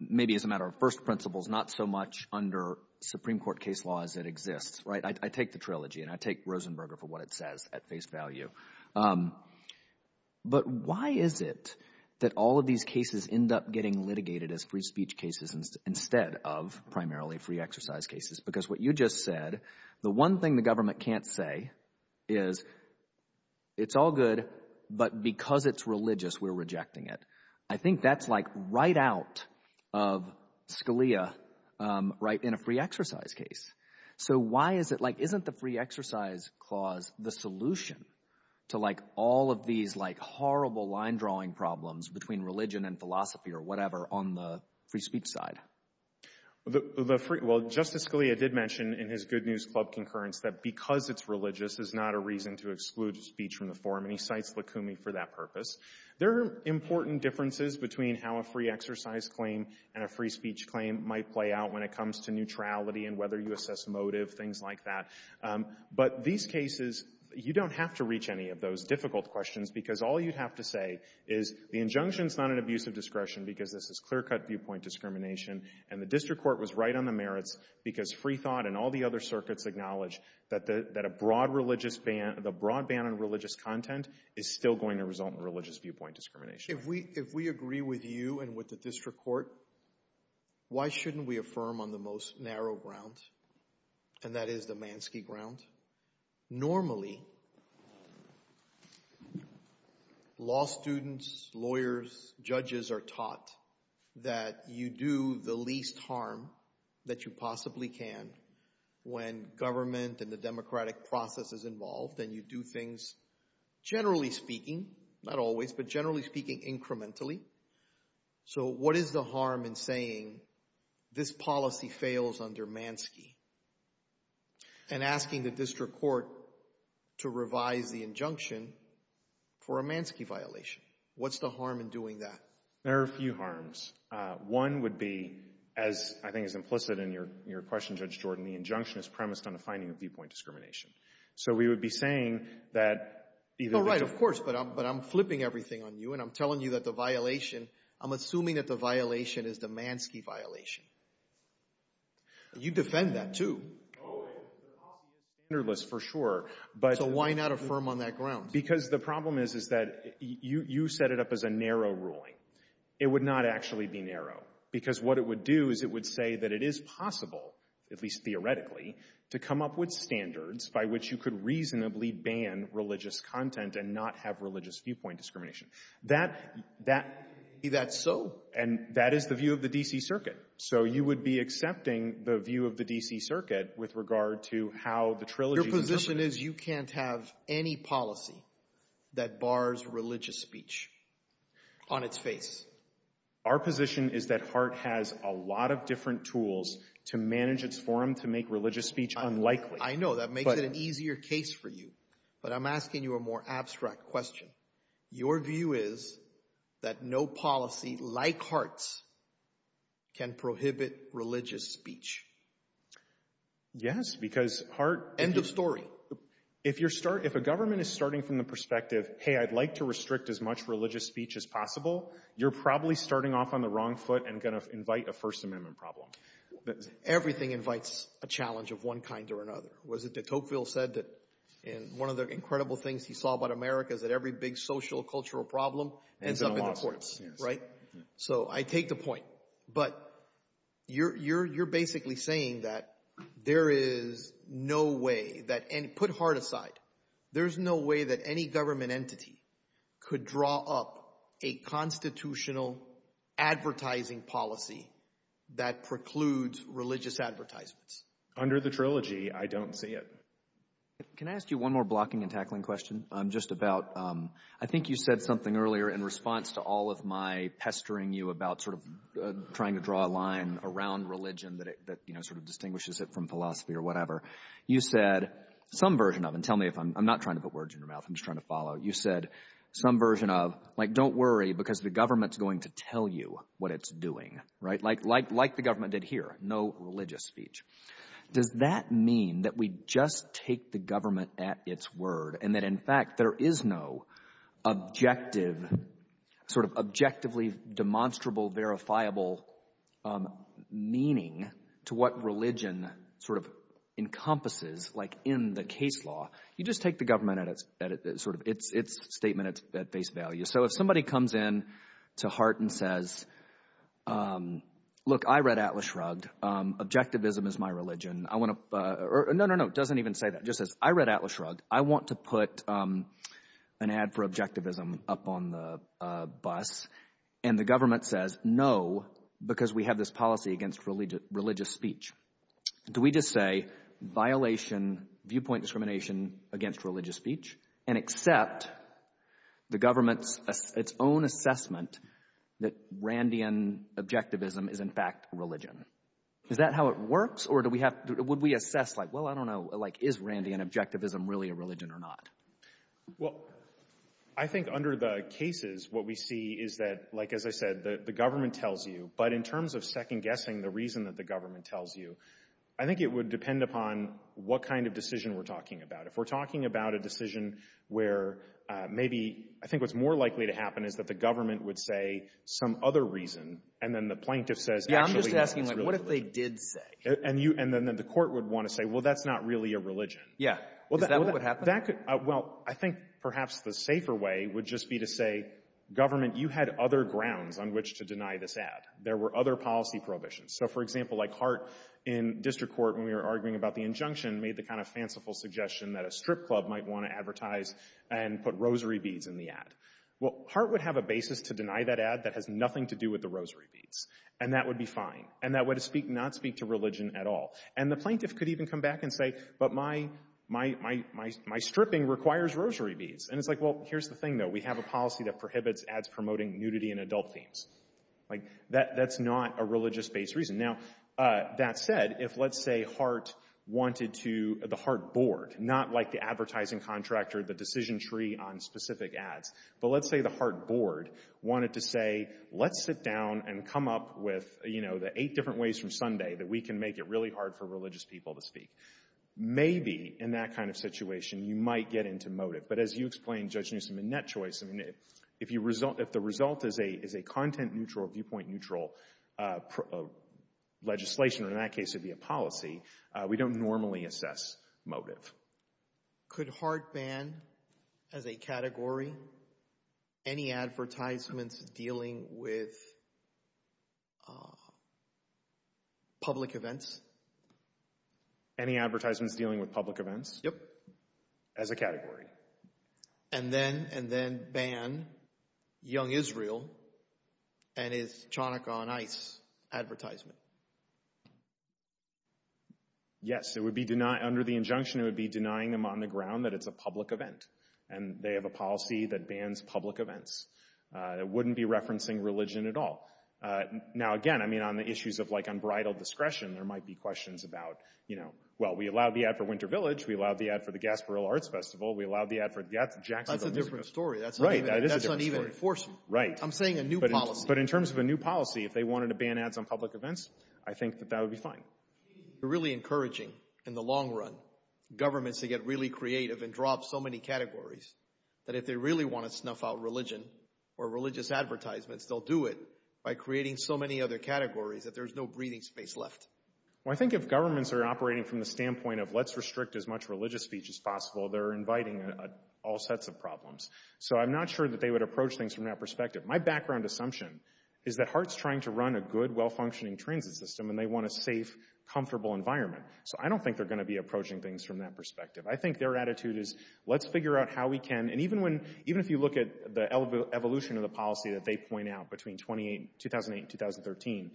maybe as a matter of first principles, not so much under Supreme Court case law as it exists, right, I take the trilogy, and I take Rosenberger for what it says at face value, but why is it that all of these cases end up getting litigated as free speech cases instead of primarily free exercise cases? Because what you just said, the one thing the government can't say is it's all good, but because it's religious, we're rejecting it. I think that's like right out of Scalia right in a free exercise case. So why is it, like, isn't the free exercise clause the solution to, like, all of these, like, horrible line-drawing problems between religion and philosophy or whatever on the free speech side? Well, Justice Scalia did mention in his Good News Club concurrence that because it's religious is not a reason to exclude speech from the forum, and he cites Lukumi for that purpose. There are important differences between how a free exercise claim and a free speech claim might play out when it comes to neutrality and whether you assess motive, things like that, but these cases, you don't have to reach any of those difficult questions because all you'd have to say is the injunction's not an abuse of discretion because this is clear-cut viewpoint discrimination, and the district court was right on the merits because Freethought and all the other circuits acknowledge that a broad religious ban, the broad ban on religious content is still going to result in religious viewpoint discrimination. If we agree with you and with the district court, why shouldn't we affirm on the most narrow ground, and that is the Manski ground? Normally, law students, lawyers, judges are taught that you do the least harm that you possibly can when government and the democratic process is involved and you do things, generally speaking, not always, but generally speaking, incrementally, so what is the harm in saying this policy fails under Manski and asking the district court to revise the injunction for a Manski violation? What's the harm in doing that? There are a few harms. One would be, as I think is implicit in your question, Judge Jordan, the injunction is premised on a finding of viewpoint discrimination, so we would be saying that even if the- All right, of course, but I'm flipping everything on you and I'm telling you that the violation, I'm assuming that the violation is the Manski violation. You defend that, too. Oh, the policy is standardless, for sure, but- So why not affirm on that ground? Because the problem is that you set it up as a narrow ruling. It would not actually be narrow, because what it would do is it would say that it is possible, at least theoretically, to come up with standards by which you could reasonably ban religious content and not have religious viewpoint discrimination. Is that so? And that is the view of the D.C. Circuit, so you would be accepting the view of the D.C. Circuit with regard to how the trilogy- Your position is you can't have any policy that bars religious speech on its face. Our position is that HART has a lot of different tools to manage its forum to make religious speech unlikely. I know, that makes it an easier case for you, but I'm asking you a more abstract question. Your view is that no policy, like HART's, can prohibit religious speech. Yes, because HART- End of story. If a government is starting from the perspective, hey, I'd like to restrict as much religious speech as possible, you're probably starting off on the wrong foot and going to invite a First Amendment problem. Everything invites a challenge of one kind or another. Was it that Tocqueville said that in one of the incredible things he saw about America is that every big social, cultural problem ends up in the courts, right? So I take the point, but you're basically saying that there is no way that- Put HART aside. There's no way that any government entity could draw up a constitutional advertising policy that precludes religious advertisements. Under the trilogy, I don't see it. Can I ask you one more blocking and tackling question just about, I think you said something earlier in response to all of my pestering you about sort of trying to draw a line around religion that sort of distinguishes it from philosophy or whatever. You said some version of, and tell me if I'm not trying to put words in your mouth, I'm just trying to follow. You said some version of, like, don't worry because the government's going to tell you what it's doing, right? Like the government did here, no religious speech. Does that mean that we just take the government at its word and that in fact, there is no objective, sort of objectively demonstrable, verifiable meaning to what religion sort of encompasses, like in the case law. You just take the government at its sort of, its statement at face value. So if somebody comes in to HART and says, look, I read Atlas Shrugged. Objectivism is my religion. I want to, or no, no, no, it doesn't even say that. Just says, I read Atlas Shrugged. I want to put an ad for objectivism up on the bus and the government says, no, because we have this policy against religious speech. Do we just say violation, viewpoint discrimination against religious speech and accept the government's, its own assessment that Randian objectivism is in fact religion? Is that how it works or do we have, would we assess like, well, I don't know, like is Randian objectivism really a religion or not? Well, I think under the cases, what we see is that, like, as I said, the government tells you, but in terms of second guessing the reason that the government tells you, I think it would depend upon what kind of decision we're talking about. If we're talking about a decision where maybe, I think what's more likely to happen is that the government would say some other reason and then the plaintiff says, actually that's really religion. Yeah, I'm just asking like, what if they did say? And you, and then the court would want to say, well, that's not really a religion. Yeah, is that what would happen? Well, I think perhaps the safer way would just be to say, government, you had other grounds on which to deny this ad. There were other policy prohibitions. So for example, like Hart in district court when we were arguing about the injunction made the kind of fanciful suggestion that a strip club might want to advertise and put rosary beads in the ad. Well, Hart would have a basis to deny that ad that has nothing to do with the rosary beads and that would be fine. And that would speak, not speak to religion at all. And the plaintiff could even come back and say, but my stripping requires rosary beads. And it's like, well, here's the thing though. We have a policy that prohibits ads promoting nudity in adult themes. Like that's not a religious based reason. Now that said, if let's say Hart wanted to, the Hart board, not like the advertising contractor, the decision tree on specific ads, but let's say the Hart board wanted to say, let's sit down and come up with, you know, the eight different ways from Sunday that we can make it really hard for religious people to speak. Maybe in that kind of situation, you might get into motive. But as you explained, Judge Newsom, in that choice, I mean, if the result is a content neutral, viewpoint neutral legislation, or in that case it'd be a policy, we don't normally assess motive. Could Hart ban as a category any advertisements dealing with public events? Any advertisements dealing with public events? Yep. As a category. And then ban Young Israel and his Chanukah on Ice advertisement. Yes, it would be under the injunction, it would be denying them on the ground that it's a public event. And they have a policy that bans public events. It wouldn't be referencing religion at all. Now, again, I mean, on the issues of, like, unbridled discretion, there might be questions about, you know, well, we allowed the ad for Winter Village, we allowed the ad for the Gasparilla Arts Festival, we allowed the ad for the Jacksonville Music Festival. That's a different story. Right, that is a different story. That's uneven enforcement. Right. I'm saying a new policy. But in terms of a new policy, if they wanted to ban ads on public events, I think that that would be fine. You're really encouraging, in the long run, governments to get really creative and draw up so many categories that if they really want to snuff out religion or religious advertisements, they'll do it by creating so many other categories that there's no breathing space left. Well, I think if governments are operating from the standpoint of, let's restrict as much religious speech as possible, they're inviting all sets of problems. So I'm not sure that they would approach things from that perspective. My background assumption is that HART's trying to run a good, well-functioning transit system and they want a safe, comfortable environment. So I don't think they're gonna be approaching things from that perspective. I think their attitude is, let's figure out how we can, and even if you look at the evolution of the policy that they point out between 2008 and 2013,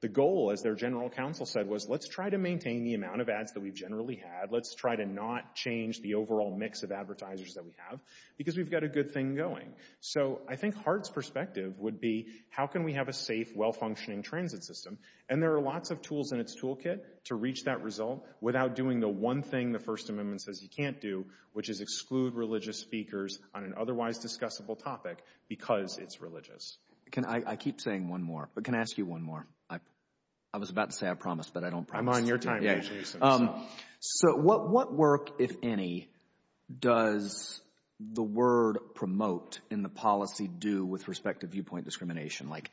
the goal, as their general counsel said, was let's try to maintain the amount of ads that we've generally had. Let's try to not change the overall mix of advertisers that we have, because we've got a good thing going. So I think HART's perspective would be, how can we have a safe, well-functioning transit system? And there are lots of tools in its toolkit to reach that result without doing the one thing the First Amendment says you can't do, which is exclude religious speakers on an otherwise discussable topic because it's religious. Can I, I keep saying one more, but can I ask you one more? I was about to say, I promise, but I don't promise. I'm on your time, Jason. So what work, if any, does the word promote in the policy do with respect to viewpoint discrimination? Like,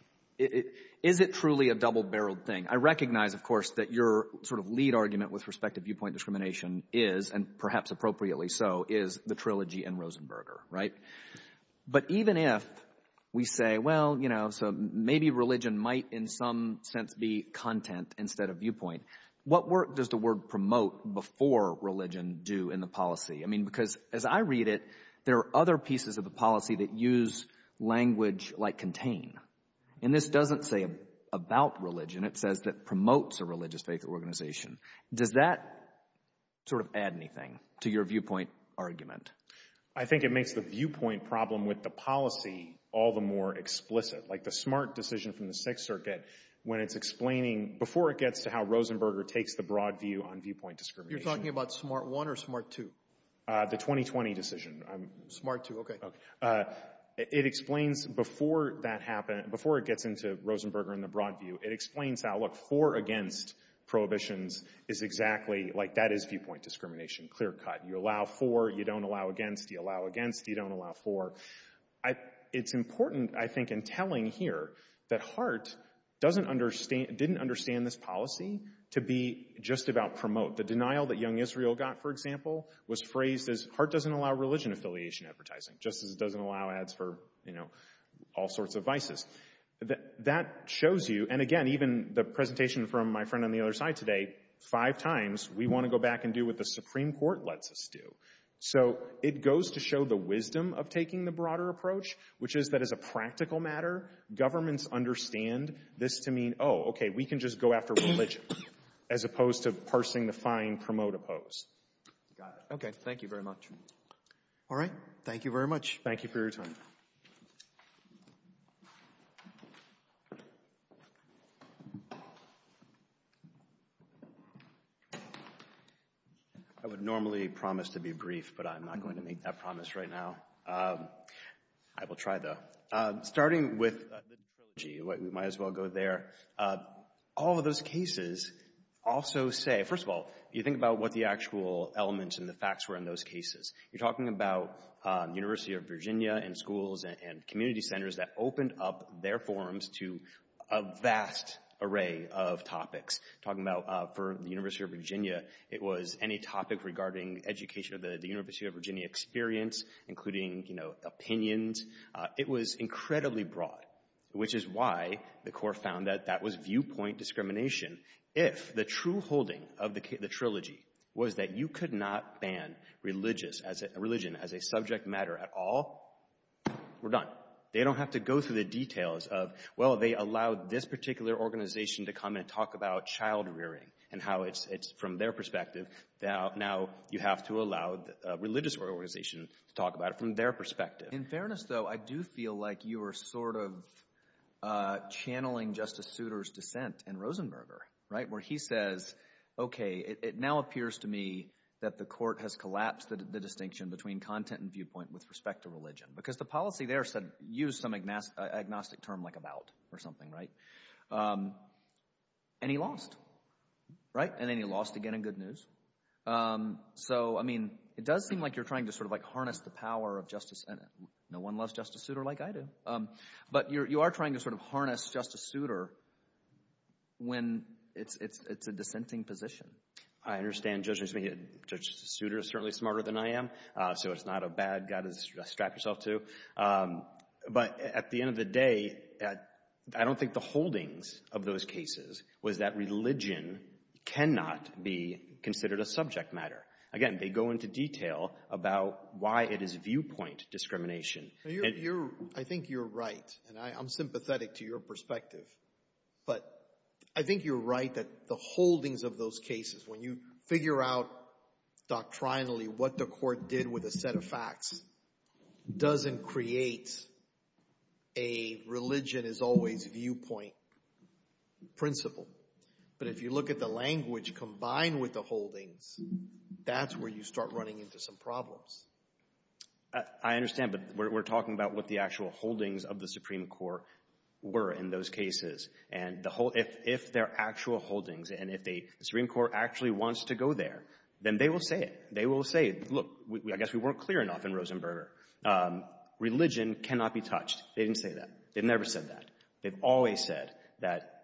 is it truly a double-barreled thing? I recognize, of course, that your sort of lead argument with respect to viewpoint discrimination is, and perhaps appropriately so, is the trilogy in Rosenberger, right? But even if we say, well, you know, so maybe religion might, in some sense, be content instead of viewpoint, what work does the word promote before religion do in the policy? I mean, because as I read it, there are other pieces of the policy that use language like contain, and this doesn't say about religion. It says that promotes a religious faith organization. Does that sort of add anything to your viewpoint argument? I think it makes the viewpoint problem with the policy all the more explicit, like the SMART decision from the Sixth Circuit, when it's explaining, before it gets to how Rosenberger takes the broad view on viewpoint discrimination. You're talking about SMART 1 or SMART 2? The 2020 decision. SMART 2, okay. It explains, before that happened, before it gets into Rosenberger and the broad view, it explains how, look, four against prohibitions is exactly, like, that is viewpoint discrimination. Clear cut. You allow four, you don't allow against. You allow against, you don't allow for. It's important, I think, in telling here that Hart didn't understand this policy to be just about promote. The denial that Young Israel got, for example, was phrased as Hart doesn't allow religion affiliation advertising, just as it doesn't allow ads for, you know, all sorts of vices. That shows you, and again, even the presentation from my friend on the other side today, five times, we want to go back and do what the Supreme Court lets us do. So it goes to show the wisdom of taking the broader approach which is that, as a practical matter, governments understand this to mean, oh, okay, we can just go after religion as opposed to parsing the fine promote oppose. Got it. Okay, thank you very much. All right, thank you very much. Thank you for your time. Thank you. I would normally promise to be brief, but I'm not going to make that promise right now. I will try, though. Starting with religion, we might as well go there. All of those cases also say, first of all, you think about what the actual elements and the facts were in those cases. You're talking about University of Virginia and schools and community centers that opened up their forums to a vast array of topics. Talking about for the University of Virginia, it was any topic regarding education of the University of Virginia experience, including opinions. It was incredibly broad, which is why the court found that that was viewpoint discrimination. If the true holding of the trilogy was that you could not ban religion as a subject matter at all, we're done. They don't have to go through the details of, well, they allowed this particular organization to come and talk about child rearing and how it's from their perspective. Now you have to allow a religious organization to talk about it from their perspective. In fairness, though, I do feel like you are sort of channeling Justice Souter's dissent and Rosenberger, right? Where he says, okay, it now appears to me that the court has collapsed the distinction between content and viewpoint with respect to religion. Because the policy there said, use some agnostic term like about or something, right? And he lost, right? And then he lost again in good news. So, I mean, it does seem like you're trying to sort of like harness the power of Justice, no one loves Justice Souter like I do. But you are trying to sort of harness Justice Souter when it's a dissenting position. I understand Judge Souter is certainly smarter than I am. So it's not a bad guy to strap yourself to. But at the end of the day, I don't think the holdings of those cases was that religion cannot be considered a subject matter. Again, they go into detail about why it is viewpoint discrimination. I think you're right. And I'm sympathetic to your perspective. But I think you're right that the holdings of those cases, when you figure out doctrinally what the court did with a set of facts, doesn't create a religion is always viewpoint principle. But if you look at the language combined with the holdings, that's where you start running into some problems. I understand, but we're talking about what the actual holdings of the Supreme Court were in those cases. And if they're actual holdings, and if the Supreme Court actually wants to go there, then they will say it. They will say, look, I guess we weren't clear enough in Rosenberger. Religion cannot be touched. They didn't say that. They never said that. They've always said that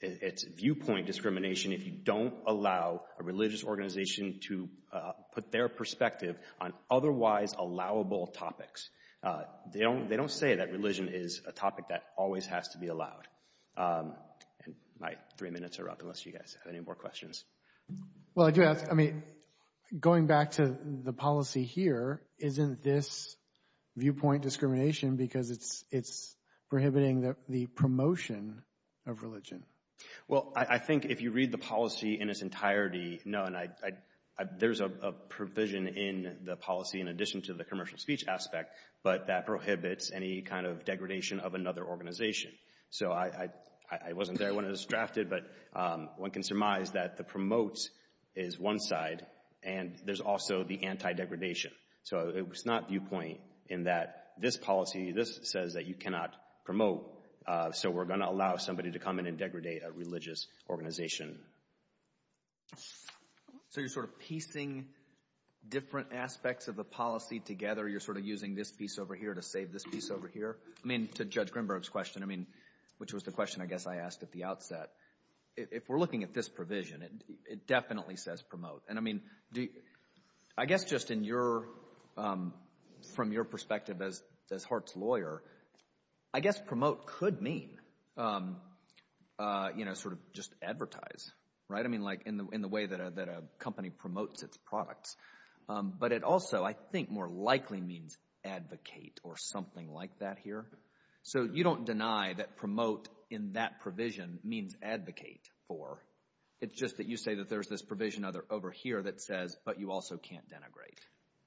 it's viewpoint discrimination if you don't allow a religious organization to put their perspective on otherwise allowable topics. They don't say that religion is a topic that always has to be allowed. And my three minutes are up unless you guys have any more questions. Well, I do ask, I mean, going back to the policy here, isn't this viewpoint discrimination because it's prohibiting the promotion of religion? Well, I think if you read the policy in its entirety, no, and there's a provision in the policy in addition to the commercial speech aspect, but that prohibits any kind of degradation of another organization. So I wasn't there when it was drafted, but one can surmise that the promotes is one side and there's also the anti-degradation. So it's not viewpoint in that this policy, this says that you cannot promote. So we're gonna allow somebody to come in and degradate a religious organization. So you're sort of piecing different aspects of the policy together. You're sort of using this piece over here to save this piece over here. I mean, to Judge Grimberg's question, which was the question I guess I asked at the outset, if we're looking at this provision, it definitely says promote. And I mean, I guess just from your perspective as Hart's lawyer, I guess promote could mean sort of just advertise, right? I mean, like in the way that a company promotes its products but it also, I think more likely means advocate or something like that here. So you don't deny that promote in that provision means advocate for, it's just that you say that there's this provision over here that says, but you also can't denigrate.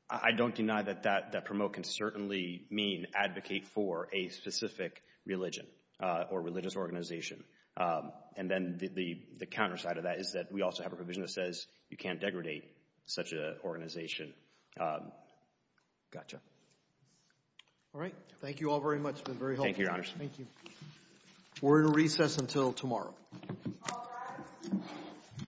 I don't deny that promote can certainly mean advocate for a specific religion or religious organization. And then the counterside of that is that we also have a provision that says you can't degradate such an organization. Gotcha. All right. Thank you all very much. It's been very helpful. Thank you, Your Honor. Thank you. We're in recess until tomorrow.